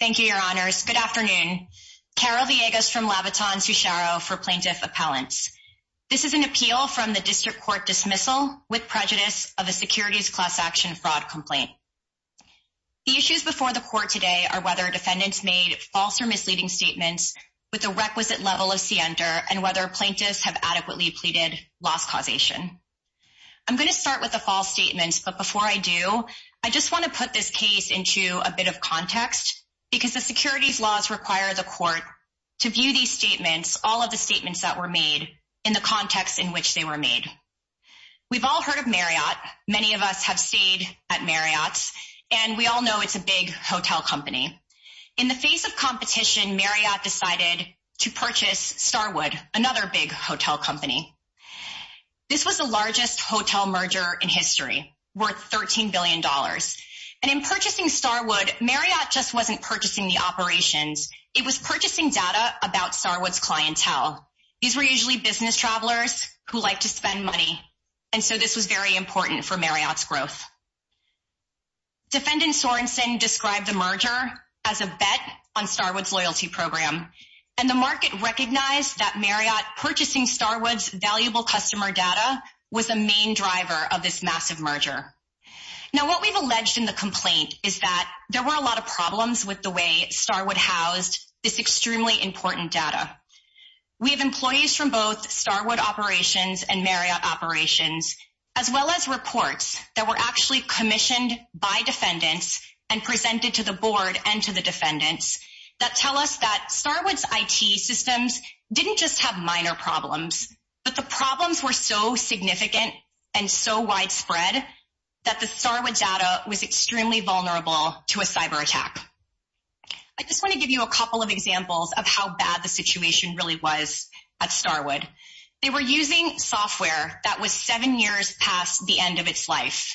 Thank you, your honors. Good afternoon. Carol Villegas from Labatton-Sucharo for Plaintiff Appellants. This is an appeal from the district court dismissal with prejudice of a securities class action fraud complaint. The issues before the court today are whether defendants made false or misleading statements with the requisite level of siender and whether plaintiffs have adequately pleaded loss causation. I'm going to start with the false statements, but before I do, I just want to put this case into a bit of context because the securities laws require the court to view these statements, all of the statements that were made in the context in which they were made. We've all heard of Marriott. Many of us have stayed at Marriott and we all know it's a big hotel company. In the face of competition, Marriott decided to purchase Starwood, another big hotel company. This was the largest hotel merger in history, worth $13 billion. And in purchasing Starwood, Marriott just wasn't purchasing the operations. It was purchasing data about Starwood's clientele. These were usually business travelers who like to spend money. And so this was very important for Marriott's growth. Defendant Sorensen described the merger as a bet on Starwood's loyalty program and the market recognized that Marriott purchasing Starwood's valuable customer data was a main driver of this massive merger. Now, what we've alleged in the complaint is that there were a lot of problems with the way Starwood housed this extremely important data. We have employees from both Starwood operations and Marriott operations, as well as reports that were actually commissioned by defendants and presented to the board and to the defendants that tell us that Starwood's IT systems didn't just have minor problems, but the problems were so significant and so widespread that the Starwood data was extremely vulnerable to a cyber attack. I just want to give you a couple of examples of how bad the situation really was at Starwood. They were using software that was seven years past the end of its life.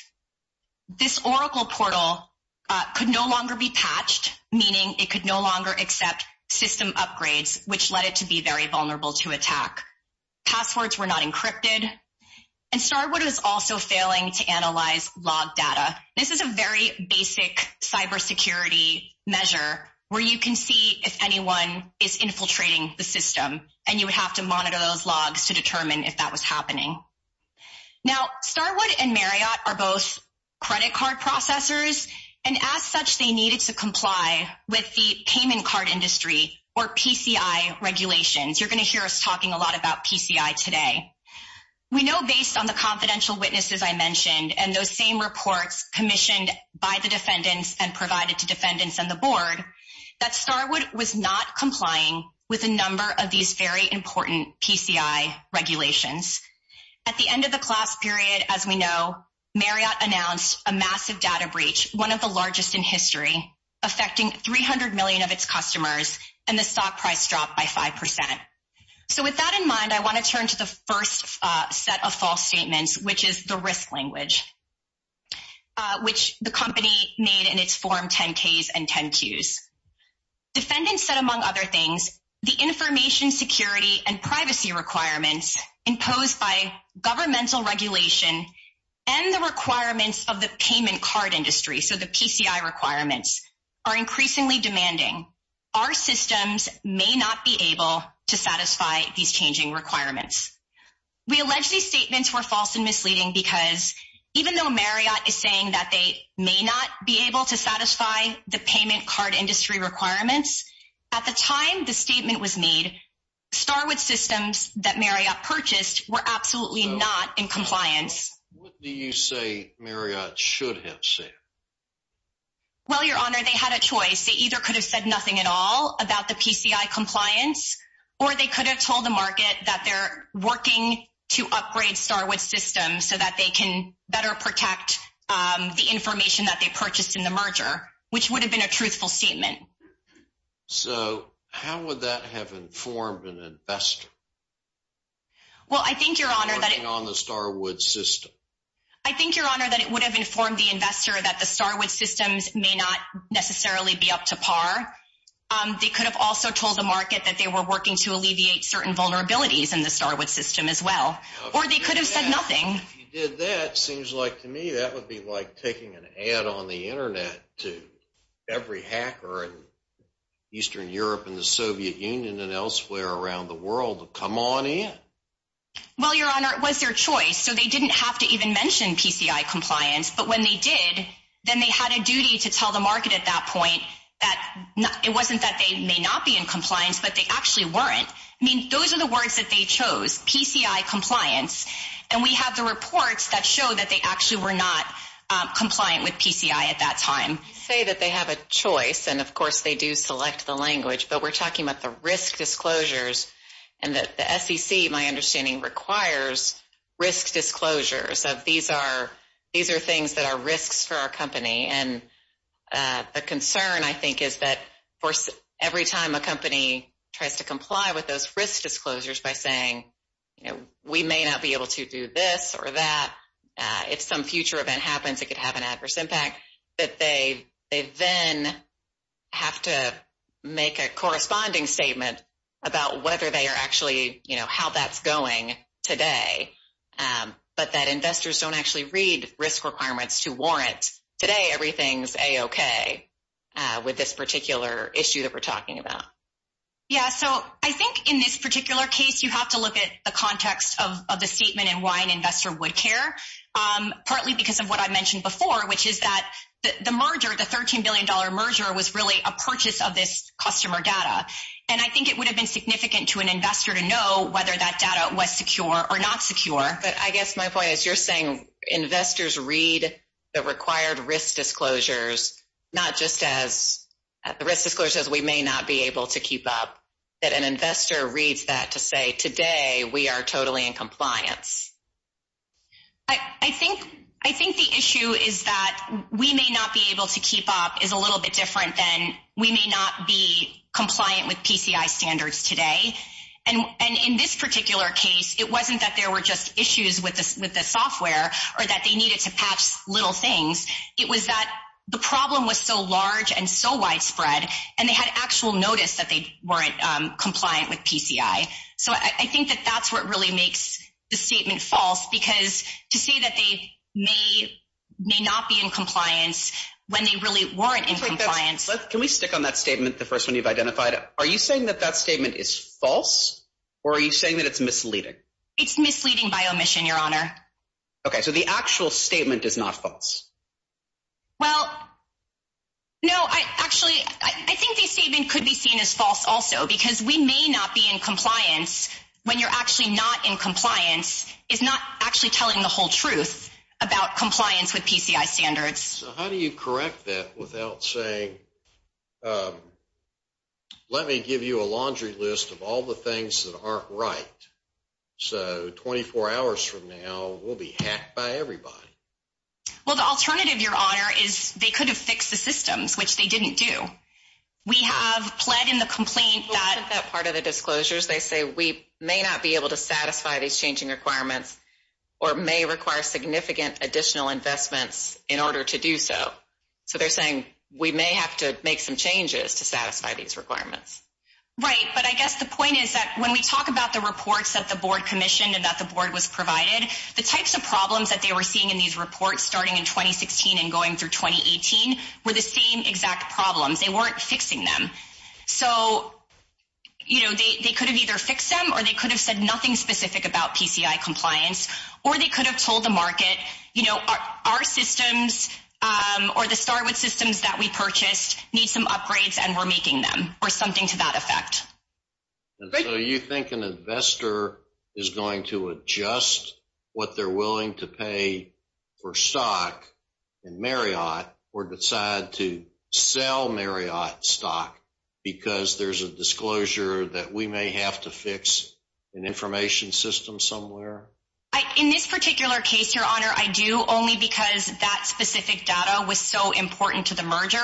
This Oracle portal could no longer be patched, meaning it could no longer be attacked. Passwords were not encrypted, and Starwood was also failing to analyze log data. This is a very basic cybersecurity measure where you can see if anyone is infiltrating the system, and you would have to monitor those logs to determine if that was happening. Now, Starwood and Marriott are both credit card processors, and as such, they needed to comply with the payment card industry or PCI regulations. You're going to hear us talking a lot about PCI today. We know based on the confidential witnesses I mentioned and those same reports commissioned by the defendants and provided to defendants and the board that Starwood was not complying with a number of these very important PCI regulations. At the end of the class period, as we know, Marriott announced a massive data breach, one of the largest in history, affecting 300 million of its customers, and the stock price dropped by 5%. So, with that in mind, I want to turn to the first set of false statements, which is the risk language, which the company made in its form 10-Ks and 10-2s. Defendants said, among other things, the information security and privacy requirements imposed by governmental regulation and the requirements of the payment card industry, so the PCI requirements, are increasingly demanding. Our systems may not be able to satisfy these changing requirements. We allege these statements were false and misleading because even though Marriott is saying that they may not be able to satisfy these requirements, Starwood systems that Marriott purchased were absolutely not in compliance. What do you say Marriott should have said? Well, Your Honor, they had a choice. They either could have said nothing at all about the PCI compliance or they could have told the market that they're working to upgrade Starwood systems so that they can better protect the information that they purchased in the merger, which would have been a truthful statement. So, how would that have informed an investor? Well, I think, Your Honor, that on the Starwood system. I think, Your Honor, that it would have informed the investor that the Starwood systems may not necessarily be up to par. They could have also told the market that they were working to alleviate certain vulnerabilities in the Starwood system as well, or they could have said nothing. If you did that, it seems like to me that would be like taking an ad on the internet to every hacker in Eastern Europe and the Soviet Union and elsewhere around the world. Come on in. Well, Your Honor, it was their choice, so they didn't have to even mention PCI compliance. But when they did, then they had a duty to tell the market at that point that it wasn't that they may not be in compliance, but they actually weren't. I mean, those are the words that they chose, PCI compliance. And we have the reports that show that they actually were not compliant with PCI at that time. You say that they have a choice, and of course, they do select the language, but we're talking about the risk disclosures and that the SEC, my understanding, requires risk disclosures of these are things that are risks for our company. And the concern, I think, is that every time a company tries to comply with those risk disclosures by saying, you know, we may not be able to do this or that, if some future event happens, it could have an adverse impact, that they then have to make a corresponding statement about whether they are actually, you know, how that's going today, but that investors don't actually read risk requirements to warrant today everything's a-okay with this particular issue that we're talking about. Yeah, so I think in this particular case, you have to look at the context of the statement and why an investor would care, partly because of what I mentioned before, which is that the merger, the $13 billion merger, was really a purchase of this customer data. And I think it would have been significant to an investor to know whether that data was secure or not secure. But I guess my point is, you're saying investors read the required risk disclosures not just as the risk disclosure says we may not be able to keep up, that an investor reads that to say today we are totally in compliance. I think the issue is that we may not be able to keep up is a little bit different than we may not be compliant with PCI standards today. And in this particular case, it wasn't that there were just issues with the software or that they needed to patch little things. It was that the problem was so large and so widespread, and they had actual notice that they weren't compliant with PCI. So I think that that's what really makes the statement false, because to say that they may not be in compliance when they really weren't in compliance. Can we stick on that statement, the first one you've identified? Are you saying that that statement is false, or are you saying that it's misleading? It's misleading by omission, Your Honor. Okay, so the actual statement is not false. Well, no, actually, I think the statement could be seen as false also, because we may not be in compliance when you're actually not in compliance is not actually telling the whole truth about compliance with PCI standards. How do you correct that without saying, let me give you a laundry list of all the things that right? So 24 hours from now, we'll be hacked by everybody. Well, the alternative, Your Honor, is they could have fixed the systems, which they didn't do. We have pled in the complaint that part of the disclosures, they say we may not be able to satisfy these changing requirements, or may require significant additional investments in order to do so. So they're saying we may have to make some changes to satisfy these requirements. Right. But I guess the point is that when we talk about the reports that the board commissioned and that the board was provided, the types of problems that they were seeing in these reports starting in 2016, and going through 2018, were the same exact problems, they weren't fixing them. So, you know, they could have either fixed them, or they could have said nothing specific about PCI compliance, or they could have told the market, you know, our systems, or the start with systems that we purchased need some upgrades, and we're making them or something to that effect. So you think an investor is going to adjust what they're willing to pay for stock in Marriott, or decide to sell Marriott stock, because there's a disclosure that we may have to fix an information system somewhere? In this particular case, Your Honor, I do only because that specific data was so important to the merger,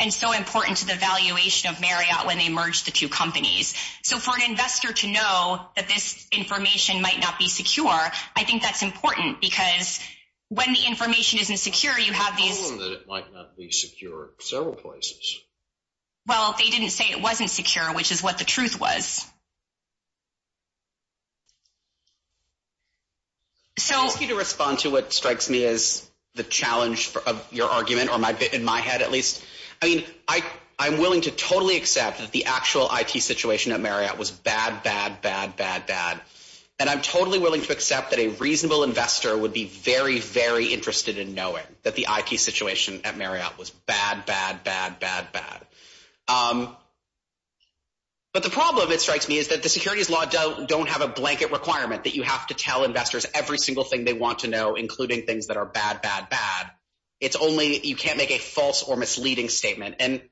and so important to the valuation of Marriott when they merged the two companies. So for an investor to know that this information might not be secure, I think that's important, because when the information isn't secure, you have these... I told them that it might not be secure several places. Well, they didn't say it wasn't secure, which is what the truth was. So I'll ask you to respond to what strikes me as the challenge of your argument, or my bit in my head, at least. I mean, I'm willing to totally accept that the actual IT situation at Marriott was bad, bad, bad, bad, bad. And I'm totally willing to accept that a reasonable investor would be very, very interested in knowing that the IT situation at Marriott was bad, bad, bad, bad, bad. But the problem, it strikes me, is that the securities law don't have a blanket requirement that you have to tell investors every single thing they want to know, including things that are bad, bad, bad. You can't make a false or misleading statement. And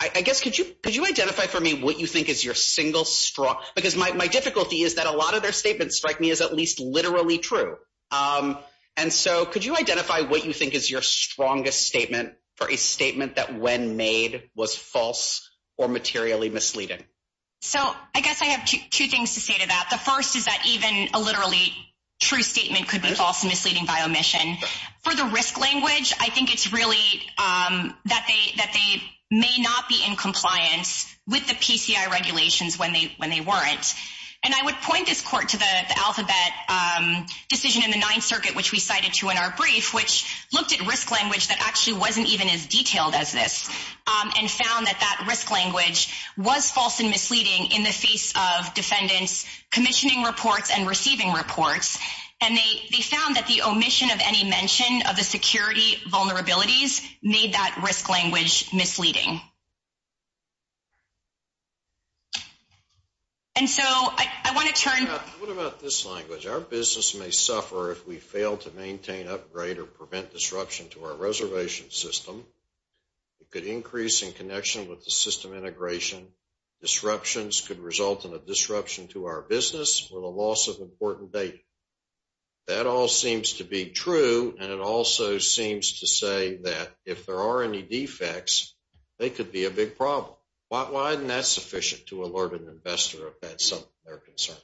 I guess, could you identify for me what you think is your single strong... Because my difficulty is that a lot of their statements strike me as at least literally true. And so could you identify what you think is your strongest statement for a statement that when made was false or materially misleading? So I guess I have two things to say to that. The first is that even a literally true statement could be false and misleading by omission. For the risk language, I think it's really that they may not be in compliance with the PCI regulations when they weren't. And I would point this court to the Alphabet decision in the Ninth Circuit, which we cited to in our brief, which looked at risk language that actually wasn't even as detailed as this and found that that risk language was false and misleading in the face of defendants commissioning reports and receiving reports. And they found that the omission of any mention of the security vulnerabilities made that risk language misleading. And so I want to turn... What about this language? Our business may suffer if we fail to maintain, upgrade, or prevent disruption to our reservation system. It could increase in connection with the system integration. Disruptions could result in a disruption to our business or the loss of important data. That all seems to be true. And it also seems to say that if there are any defects, they could be a big problem. Why isn't that sufficient to alert an investor if that's something they're concerned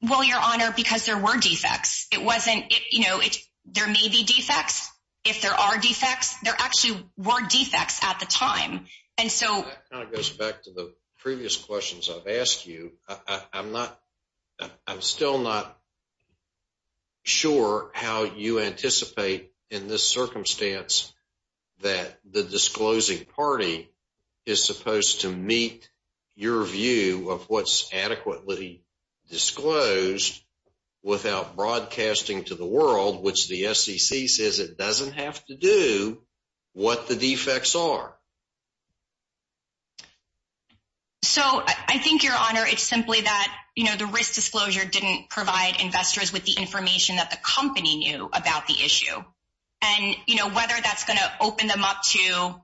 about? Well, Your Honor, because there were defects. It wasn't, you know, there may be defects. If there are defects, there actually were defects at the time. And so... That kind of goes back to the previous questions I've asked you. I'm still not sure how you anticipate in this circumstance that the disclosing party is supposed to meet your view of what's adequately disclosed without broadcasting to the world, which the SEC says it doesn't have to do what the defects are. So, I think, Your Honor, it's simply that, you know, the risk disclosure didn't provide investors with the information that the company knew about the issue. And, you know, whether that's going to open them up to,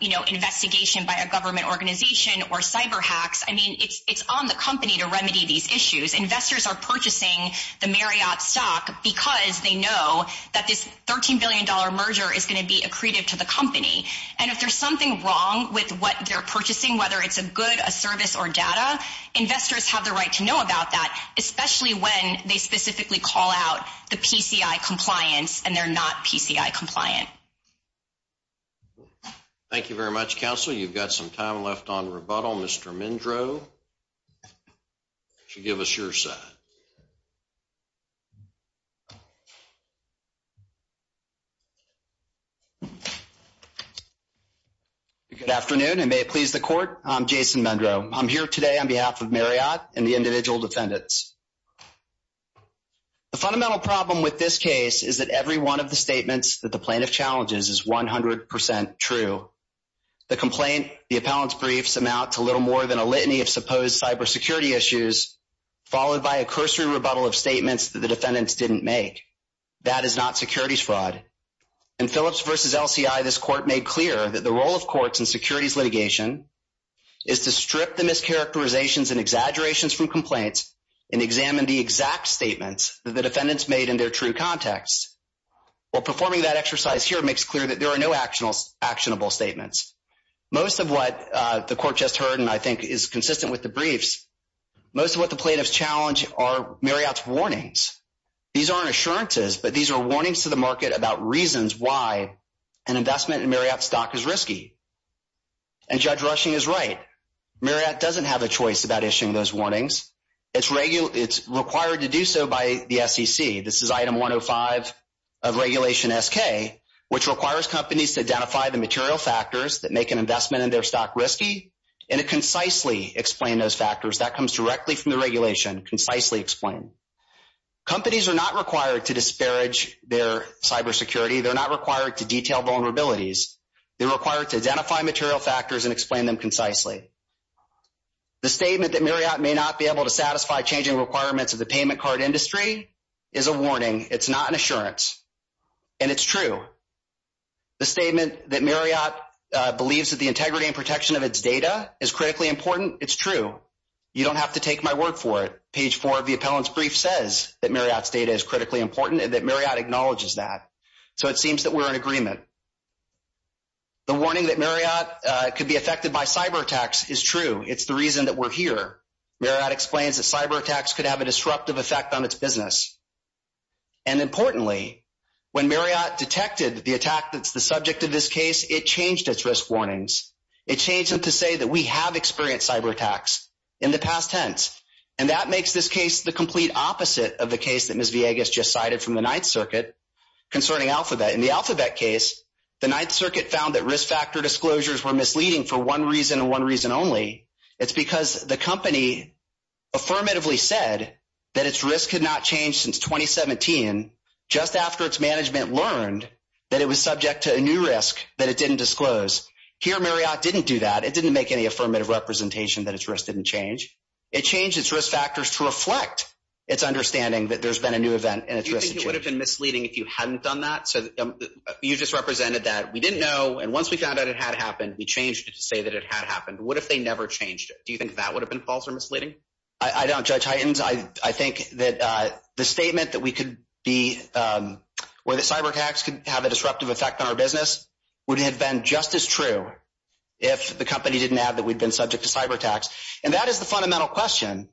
you know, investigation by a government organization or cyber hacks, I mean, it's on the company to remedy these issues. Investors are purchasing the Marriott stock because they know that this $13 billion merger is going to be accretive to the company. And if there's something wrong with what they're purchasing, whether it's a good, a service, or data, investors have the right to know about that, especially when they specifically call out the PCI compliance and they're not PCI compliant. Thank you very much, counsel. You've got a minute. Good afternoon, and may it please the court. I'm Jason Mendrow. I'm here today on behalf of Marriott and the individual defendants. The fundamental problem with this case is that every one of the statements that the plaintiff challenges is 100 percent true. The complaint, the appellant's briefs amount to little more than a litany of supposed cybersecurity issues, followed by a cursory rebuttal of statements that the defendants didn't make. That is not securities fraud. In Phillips v. LCI, this court made clear that the role of courts in securities litigation is to strip the mischaracterizations and exaggerations from complaints and examine the exact statements that the defendants made in their true context. While performing that exercise here makes clear that there are no actionable statements. Most of what the court just heard, and I think is consistent with the briefs, most of what the plaintiffs challenge are Marriott's warnings. These aren't assurances, but these are warnings to the market about reasons why an investment in Marriott's stock is risky. And Judge Rushing is right. Marriott doesn't have a choice about issuing those warnings. It's required to do so by the SEC. This is item 105 of Regulation SK, which requires companies to identify the material factors that make an investment in their stock risky, and to concisely explain those factors. That comes directly from the regulation. Concisely explain. Companies are not required to disparage their cybersecurity. They're not required to detail vulnerabilities. They're required to identify material factors and explain them concisely. The statement that Marriott may not be able to satisfy changing requirements of the payment card industry is a warning. It's not an assurance. And it's true. The statement that Marriott believes that the integrity and protection of its data is critically important, it's true. You don't have to take my word for it. Page four of the appellant's brief says that Marriott's data is critically important and that Marriott acknowledges that. So it seems that we're in agreement. The warning that Marriott could be affected by cyber attacks is true. It's the reason that we're here. Marriott explains that cyber attacks could have a disruptive effect on its business. And importantly, when Marriott detected the attack that's the experience cyber attacks in the past tense. And that makes this case the complete opposite of the case that Ms. Villegas just cited from the Ninth Circuit concerning Alphabet. In the Alphabet case, the Ninth Circuit found that risk factor disclosures were misleading for one reason and one reason only. It's because the company affirmatively said that its risk had not changed since 2017 just after its management learned that it was subject to a new risk that it didn't that its risk didn't change. It changed its risk factors to reflect its understanding that there's been a new event and its risk would have been misleading if you hadn't done that. So you just represented that we didn't know. And once we found out it had happened, we changed it to say that it had happened. What if they never changed it? Do you think that would have been false or misleading? I don't judge heightens. I think that the statement that we could be where the cyber attacks could have a disruptive effect on our business would have been just as true. If the company didn't have that, we'd been subject to cyber attacks. And that is the fundamental question.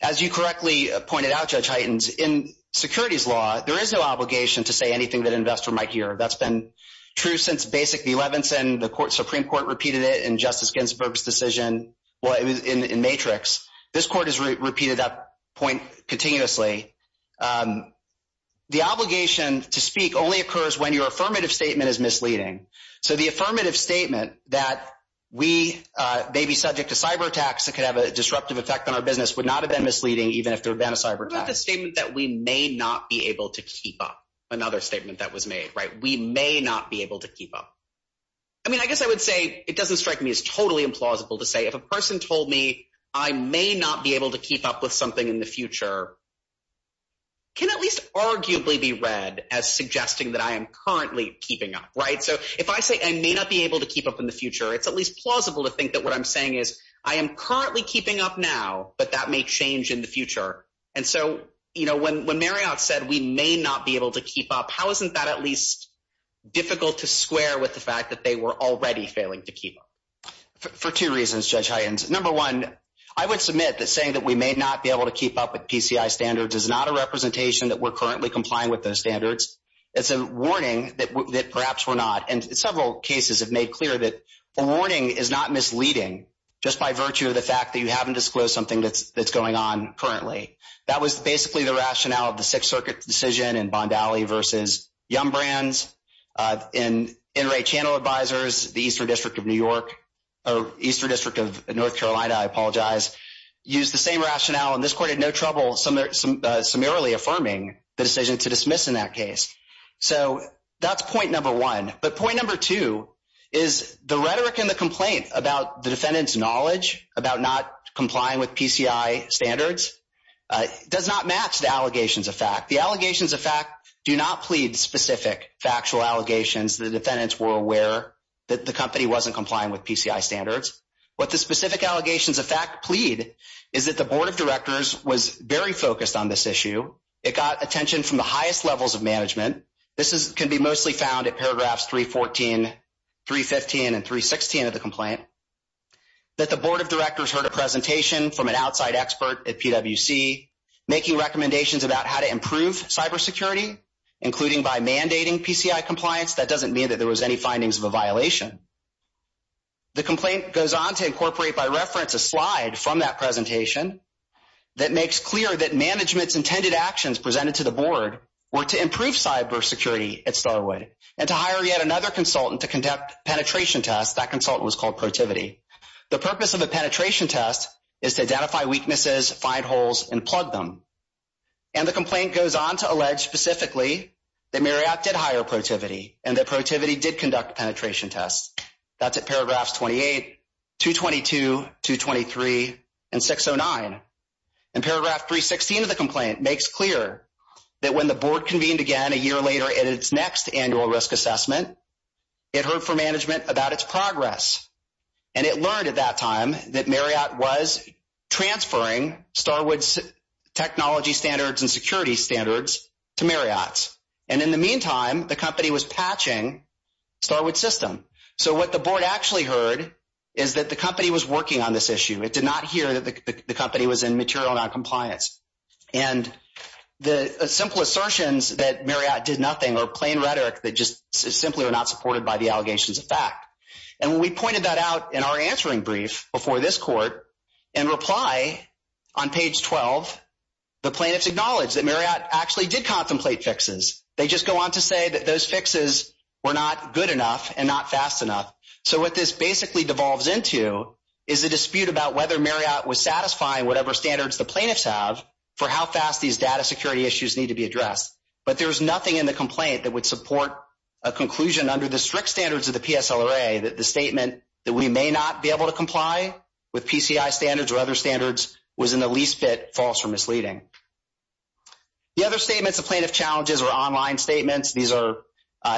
As you correctly pointed out, Judge Heightens, in securities law, there is no obligation to say anything that investor might hear. That's been true since basic the 11th and the Supreme Court repeated it in Justice Ginsburg's decision. Well, it was in matrix. This court has repeated that point continuously. The obligation to speak only occurs when your affirmative statement is misleading. So the affirmative statement that we may be subject to cyber attacks that could have a disruptive effect on our business would not have been misleading even if there had been a cyber attack. What about the statement that we may not be able to keep up? Another statement that was made, right? We may not be able to keep up. I mean, I guess I would say it doesn't strike me as totally implausible to say if a person told me I may not be able to keep up with something in the future can at least arguably be read as suggesting that I am currently keeping up, right? So if I say I may not be able to keep up in the future, it's at least plausible to think that what I'm saying is I am currently keeping up now, but that may change in the future. And so, you know, when Marriott said we may not be able to keep up, how isn't that at least difficult to square with the fact that they were already failing to keep up? For two reasons, Judge Heightens. Number one, I would submit that saying that we may not be able to keep up with PCI standards is not a representation that we're currently complying with those standards. It's a warning that perhaps we're not. And several cases have made clear that a warning is not misleading just by virtue of the fact that you haven't disclosed something that's going on currently. That was basically the rationale of the Sixth Circuit decision in Bond Alley versus Yum Brands. And NRA Channel Advisors, the Eastern District of New York, or Eastern District of North Carolina, I apologize, used the same rationale, and this court had no trouble summarily affirming the decision to dismiss in that case. So that's point number one. But point number two is the rhetoric and the complaint about the defendant's knowledge about not complying with PCI standards does not match the allegations of fact. The allegations of fact do not plead specific factual allegations. The defendants were aware that the company wasn't complying with PCI standards. What the specific allegations of fact plead is that the Board of Directors was very focused on this issue. It got attention from the highest levels of management. This can be mostly found at paragraphs 314, 315, and 316 of the complaint, that the Board of Directors heard a presentation from an outside expert at PWC making recommendations about how to improve cybersecurity, including by mandating PCI compliance. That doesn't mean that there was any findings of a violation. The complaint goes on to reference a slide from that presentation that makes clear that management's intended actions presented to the Board were to improve cybersecurity at Starwood and to hire yet another consultant to conduct penetration tests. That consultant was called Protivity. The purpose of a penetration test is to identify weaknesses, find holes, and plug them. And the complaint goes on to allege specifically that Marriott did hire Protivity and that Protivity did conduct penetration tests. That's at paragraphs 28, 222, 223, and 609. And paragraph 316 of the complaint makes clear that when the Board convened again a year later at its next annual risk assessment, it heard from management about its progress. And it learned at that time that Marriott was transferring Starwood's technology standards and security standards to Marriott's. And in the what the Board actually heard is that the company was working on this issue. It did not hear that the company was in material noncompliance. And the simple assertions that Marriott did nothing or plain rhetoric that just simply were not supported by the allegations of fact. And when we pointed that out in our answering brief before this court and reply on page 12, the plaintiffs acknowledged that Marriott actually did contemplate fixes. They just go on to say that those fixes were not good enough and not fast enough. So what this basically devolves into is a dispute about whether Marriott was satisfying whatever standards the plaintiffs have for how fast these data security issues need to be addressed. But there was nothing in the complaint that would support a conclusion under the strict standards of the PSLRA that the statement that we may not be able to comply with PCI standards or other standards was in the least bit false or misleading. The other statements of plaintiff challenges are online statements. These are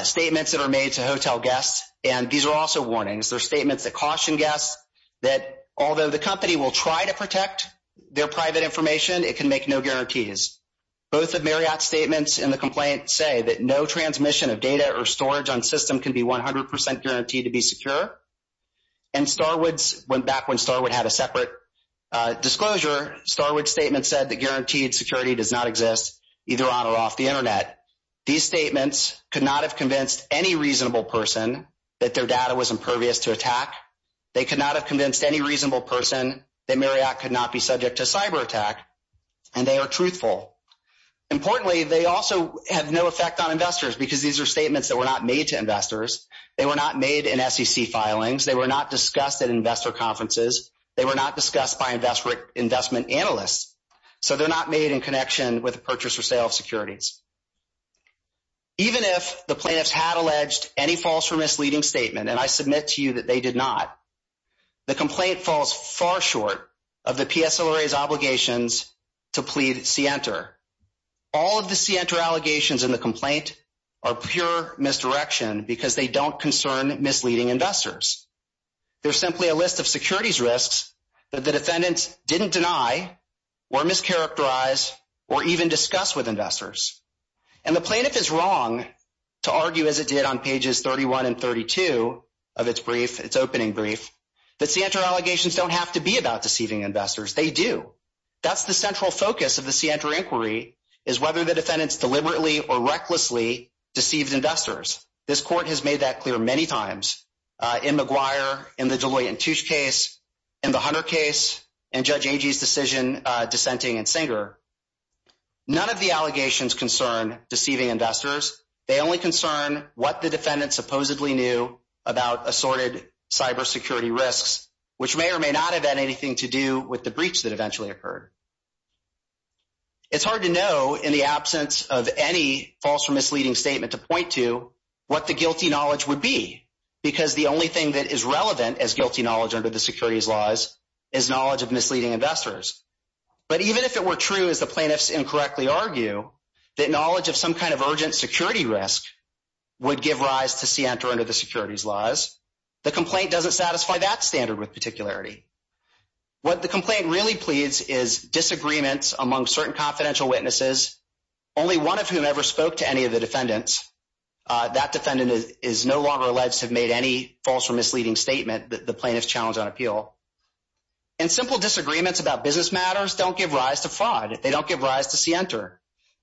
statements that are made to hotel guests. And these are also warnings. They're statements that caution guests that although the company will try to protect their private information, it can make no guarantees. Both of Marriott's statements in the complaint say that no transmission of data or storage on system can be 100% guaranteed to be secure. And Starwoods went back when Starwood had a separate disclosure. Starwood's statement said that guaranteed security does not exist either on or off the internet. These statements could not have convinced any reasonable person that their data was impervious to attack. They could not have convinced any reasonable person that Marriott could not be subject to cyber attack. And they are truthful. Importantly, they also have no effect on investors because these are statements that were not made to investors. They were not made in SEC filings. They were not discussed at investor conferences. They were not discussed by investment analysts. So they're not made in connection with a purchase or sale of securities. Even if the plaintiffs had alleged any false or misleading statement, and I submit to you that they did not, the complaint falls far short of the PSLRA's obligations to plead scienter. All of the scienter allegations in the complaint are pure misdirection because they don't concern misleading investors. They're simply a list of securities risks that the defendants didn't deny or mischaracterize or even discuss with investors. And the plaintiff is wrong to argue as it did on pages 31 and 32 of its brief, its opening brief, that scienter allegations don't have to be about deceiving investors. They do. That's the central focus of the scienter inquiry is whether the defendants deliberately or recklessly deceived investors. This court has decision dissenting and singer. None of the allegations concern deceiving investors. They only concern what the defendant supposedly knew about assorted cybersecurity risks, which may or may not have had anything to do with the breach that eventually occurred. It's hard to know in the absence of any false or misleading statement to point to what the guilty knowledge would be, because the only thing that is relevant as guilty knowledge under the securities laws is knowledge of misleading investors. But even if it were true, as the plaintiffs incorrectly argue, that knowledge of some kind of urgent security risk would give rise to scienter under the securities laws. The complaint doesn't satisfy that standard with particularity. What the complaint really pleads is disagreements among certain confidential witnesses, only one of whom ever spoke to any of the defendants. That defendant is no longer alleged to have made any false or misleading statement that the plaintiffs challenge on appeal and simple disagreements about business matters don't give rise to fraud. They don't give rise to scienter.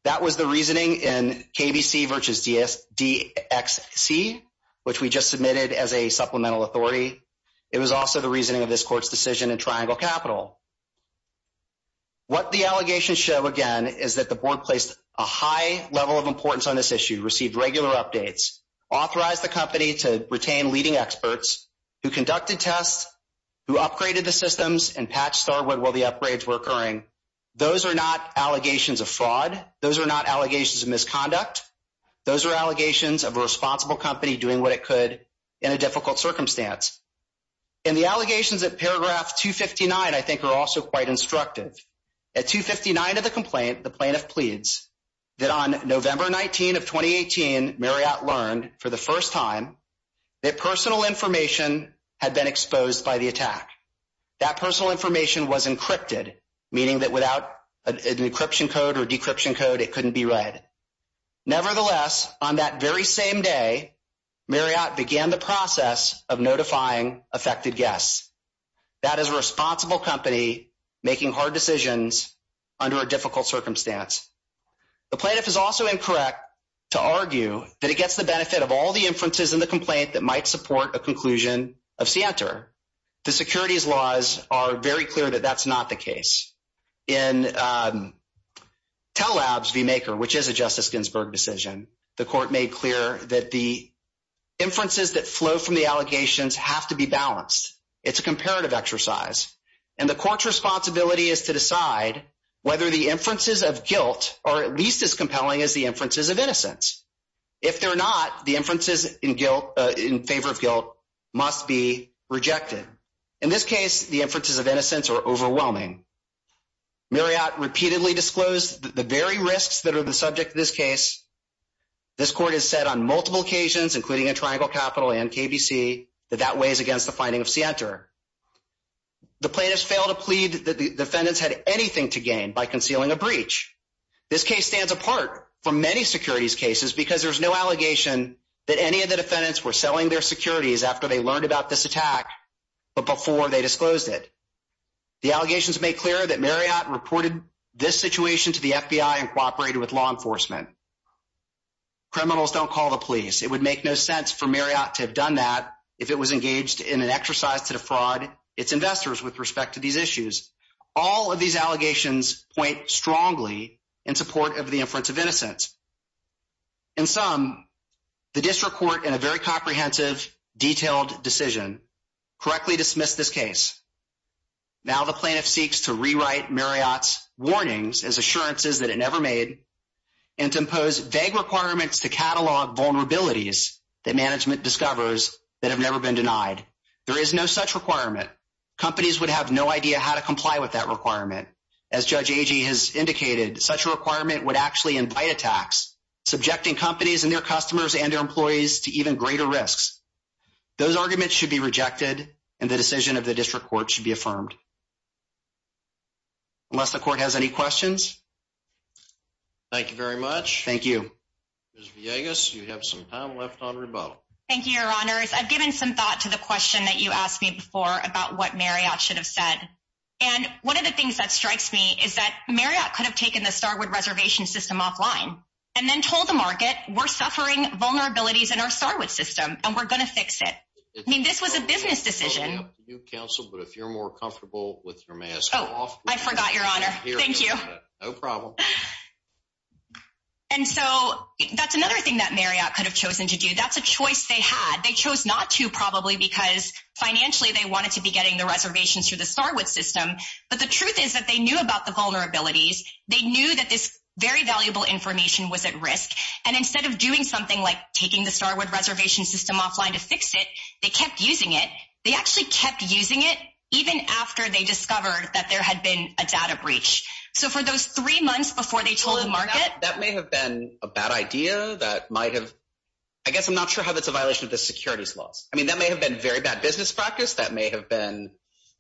That was the reasoning in KBC versus DSD XC, which we just submitted as a supplemental authority. It was also the reasoning of this court's decision and triangle capital. What the allegations show again is that the board placed a high level of importance on this issue, received regular updates, authorized the company to retain leading experts who conducted tests, who upgraded the systems, and patched Starwood while the upgrades were occurring. Those are not allegations of fraud. Those are not allegations of misconduct. Those are allegations of a responsible company doing what it could in a difficult circumstance. And the allegations at paragraph 259, I think, are also quite instructive. At 259 of the complaint, the plaintiff pleads that on November 19 of 2018, Marriott learned for the first time that personal information had been exposed by the attack. That personal information was encrypted, meaning that without an encryption code or decryption code, it couldn't be read. Nevertheless, on that very same day, Marriott began the process of notifying affected guests. That is a responsible company making hard decisions under a difficult circumstance. The plaintiff is also incorrect to argue that it gets the benefit of all the inferences in the complaint that might support a conclusion of SIENTA. The securities laws are very clear that that's not the case. In Tell Labs v. Maker, which is a Justice Ginsburg decision, the court made clear that the inferences that flow from the allegations have to be balanced. It's a comparative exercise. And the court's responsibility is to decide whether the inferences of guilt are at least as compelling as the inferences of innocence. If they're not, the inferences in favor of guilt must be rejected. In this case, the inferences of innocence are overwhelming. Marriott repeatedly disclosed that the very risks that are the subject of this case, this court has said on multiple occasions, including at Triangle Capital and KBC, that that weighs against the finding of SIENTA. The plaintiffs failed to plead that the defendants had anything to gain by concealing a breach. This case stands apart from many securities cases because there's no allegation that any of the defendants were selling their securities after they learned about this attack, but before they disclosed it. The allegations make clear that Marriott reported this situation to the FBI and cooperated with law enforcement. Criminals don't call the police. It would make no sense for Marriott to have done that if it was engaged in an exercise to defraud its investors with respect to these issues. All of these allegations point strongly in support of the inference of innocence. In sum, the district court, in a very comprehensive, detailed decision, correctly dismissed this case. Now the plaintiff seeks to rewrite Marriott's warnings as assurances that it never made and to impose vague requirements to catalog vulnerabilities that management discovers that have never been denied. There is no such requirement. Companies would have no idea how to comply with that requirement. As Judge Agee has indicated, such a requirement would actually invite attacks, subjecting companies and their customers and their employees to even affirmed. Unless the court has any questions? Thank you very much. Thank you. Ms. Villegas, you have some time left on rebuttal. Thank you, your honors. I've given some thought to the question that you asked me before about what Marriott should have said. And one of the things that strikes me is that Marriott could have taken the Starwood reservation system offline and then told the market, we're suffering vulnerabilities in our Starwood system and we're going to fix it. I mean, this was a business decision. You counsel, but if you're more comfortable with your mask off, I forgot your honor. Thank you. No problem. And so that's another thing that Marriott could have chosen to do. That's a choice they had. They chose not to probably because financially they wanted to be getting the reservations through the Starwood system. But the truth is that they knew about the vulnerabilities. They knew that this very valuable information was at risk. And instead of doing something like taking the Starwood reservation system offline to fix it, they actually kept using it even after they discovered that there had been a data breach. So for those three months before they told the market, that may have been a bad idea that might have, I guess, I'm not sure how that's a violation of the securities laws. I mean, that may have been very bad business practice. That may have been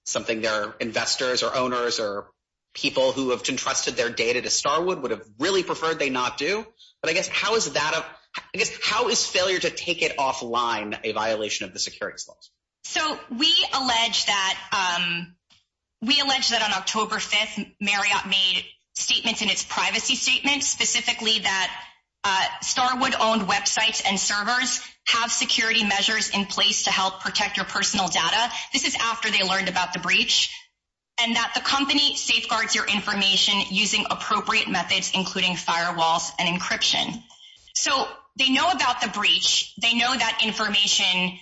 something their investors or owners or people who have entrusted their data to Starwood would have really preferred they not do. But I guess, how is that? I guess, how is failure to take it offline a violation of the securities laws? So we allege that on October 5th, Marriott made statements in its privacy statement, specifically that Starwood owned websites and servers have security measures in place to help protect your personal data. This is after they learned about the breach and that the company safeguards your information using appropriate methods, including firewalls and encryption. So they know about the breach. They know that information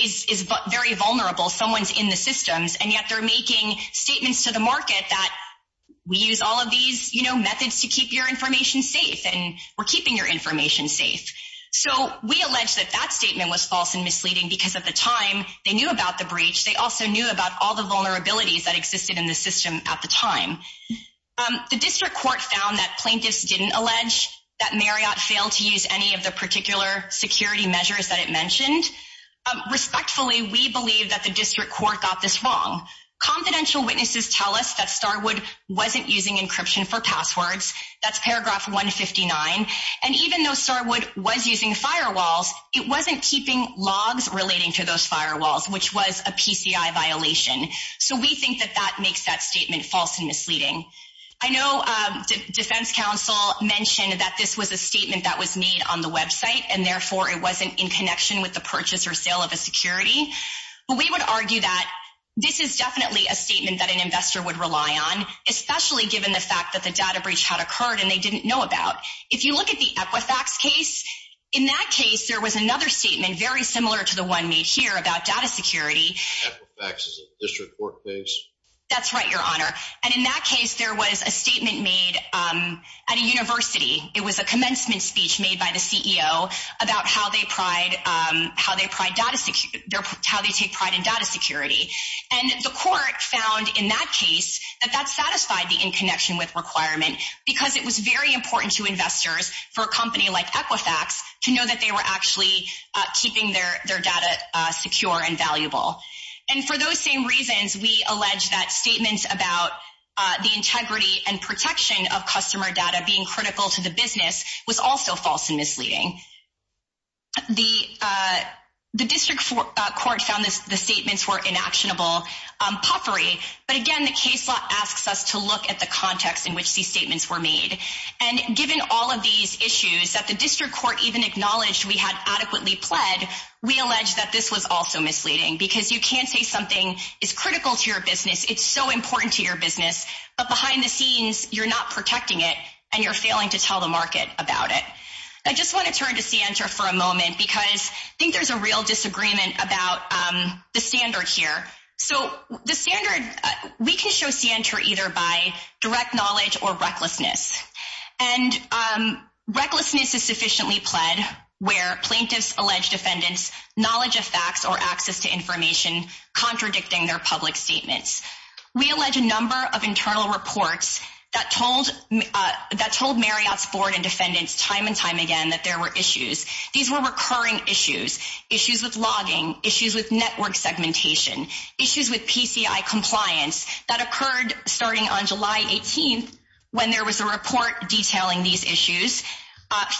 is very vulnerable. Someone's in the systems and yet they're making statements to the market that we use all of these methods to keep your information safe and we're keeping your information safe. So we allege that that statement was false and misleading because at the time they knew about the breach. They also knew about all the vulnerabilities that existed in the system at the time. The district court found that plaintiffs didn't allege that Marriott failed to use any of the particular security measures that it mentioned. Respectfully, we believe that the district court got this wrong. Confidential witnesses tell us that Starwood wasn't using encryption for passwords. That's paragraph 159. And even though Starwood was using firewalls, it wasn't keeping logs relating to those firewalls, which was a PCI violation. So we think that that makes that statement false and misleading. I know defense counsel mentioned that this was a statement that was made on the website and therefore it wasn't in connection with the purchase or sale of a security. But we would argue that this is definitely a statement that an investor would rely on, especially given the fact that the data breach had occurred and they didn't know about. If you look at the Equifax case, in that case there was another statement very similar to the one made here about data security. Equifax is a district court case? That's right, your honor. And in that case, there was a statement made at a university. It was a commencement speech made by the CEO about how they take pride in data security. And the court found in that case that that satisfied the in connection with requirement because it was very important to investors for a company like Equifax to know that they were actually keeping their data secure and valuable. And for those same reasons, we allege that statements about the integrity and protection of customer data being critical to the business was also false and misleading. The district court found the statements were inactionable puffery. But again, the case law asks us to look at the context in which these statements were made. And given all of these issues, that the district court even acknowledged we had adequately pled, we allege that this was also misleading because you can't say something is critical to your business. It's so important to your business. But behind the scenes, you're not protecting it and you're failing to tell the market about it. I just want to turn to Sientra for a moment because I think there's a real disagreement about the standard here. So the standard, we can show Sientra either by direct knowledge or recklessness. And recklessness is sufficiently pled where plaintiffs allege defendants knowledge of facts or access to information contradicting their public statements. We allege a number of internal reports that told that told Marriott's board and defendants time and time again that there were issues. These were recurring issues, issues with logging, issues with network segmentation, issues with PCI compliance that occurred starting on July 18th when there was a report detailing these issues.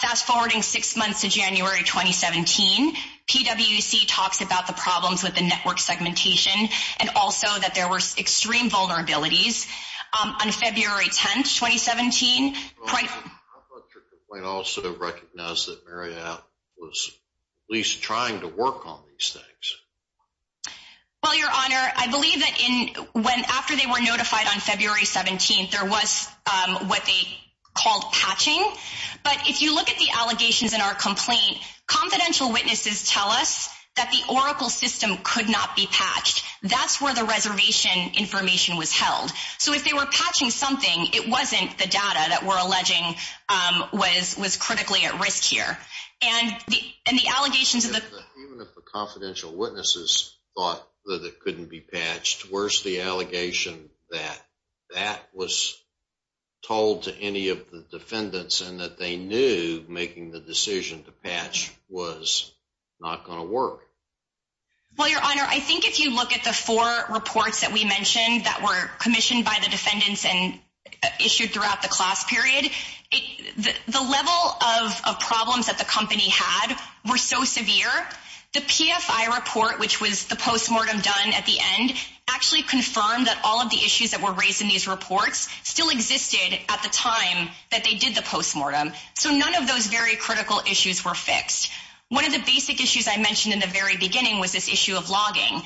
Fast forwarding six months to January 2017, PWC talks about the problems with the network segmentation and also that there were extreme vulnerabilities on February 10th, 2017. I thought your complaint also recognized that Marriott was at least trying to work on these things. Well, your honor, I believe that in when after they were notified on February 17th, there was what they called patching. But if you look at the allegations in our complaint, confidential witnesses tell us that the Oracle system could not be patched. That's where the reservation information was held. So if they were patching something, it wasn't the data that we're alleging was critically at risk here. And the allegations of the- Even if the confidential witnesses thought that it couldn't be patched, where's the allegation that that was told to any of the defendants and that they knew making the decision to patch was not going to work? Well, your honor, I think if you look at the four reports that we mentioned that were commissioned by the defendants and issued throughout the class period, the level of postmortem done at the end actually confirmed that all of the issues that were raised in these reports still existed at the time that they did the postmortem. So none of those very critical issues were fixed. One of the basic issues I mentioned in the very beginning was this issue of logging.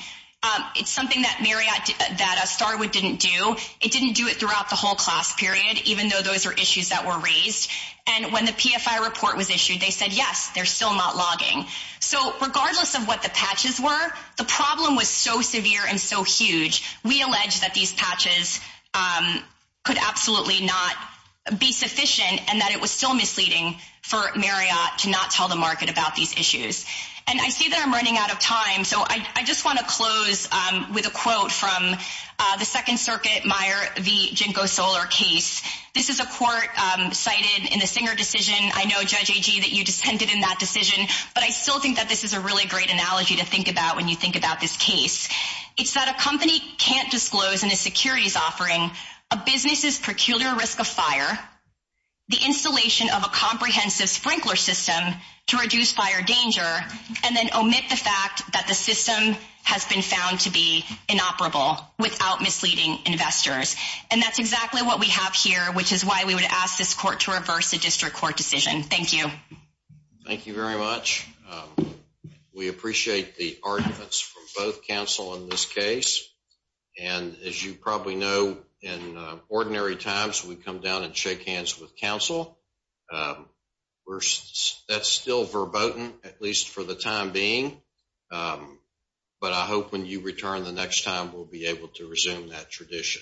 It's something that Marriott- that a Starwood didn't do. It didn't do it throughout the whole class period, even though those are issues that were raised. And when the PFI report was the problem was so severe and so huge. We allege that these patches could absolutely not be sufficient and that it was still misleading for Marriott to not tell the market about these issues. And I see that I'm running out of time, so I just want to close with a quote from the Second Circuit Meyer v. Ginkgo Solar case. This is a court cited in the Singer decision. I know, Judge Agee, that you dissented in that decision, but I still think that this is a really great analogy to think about when you think about this case. It's that a company can't disclose in a securities offering a business's peculiar risk of fire, the installation of a comprehensive sprinkler system to reduce fire danger, and then omit the fact that the system has been found to be inoperable without misleading investors. And that's exactly what we have here, which is why we would ask this the arguments from both counsel in this case. And as you probably know, in ordinary times, we come down and shake hands with counsel. That's still verboten, at least for the time being. But I hope when you return the next time, we'll be able to resume that tradition.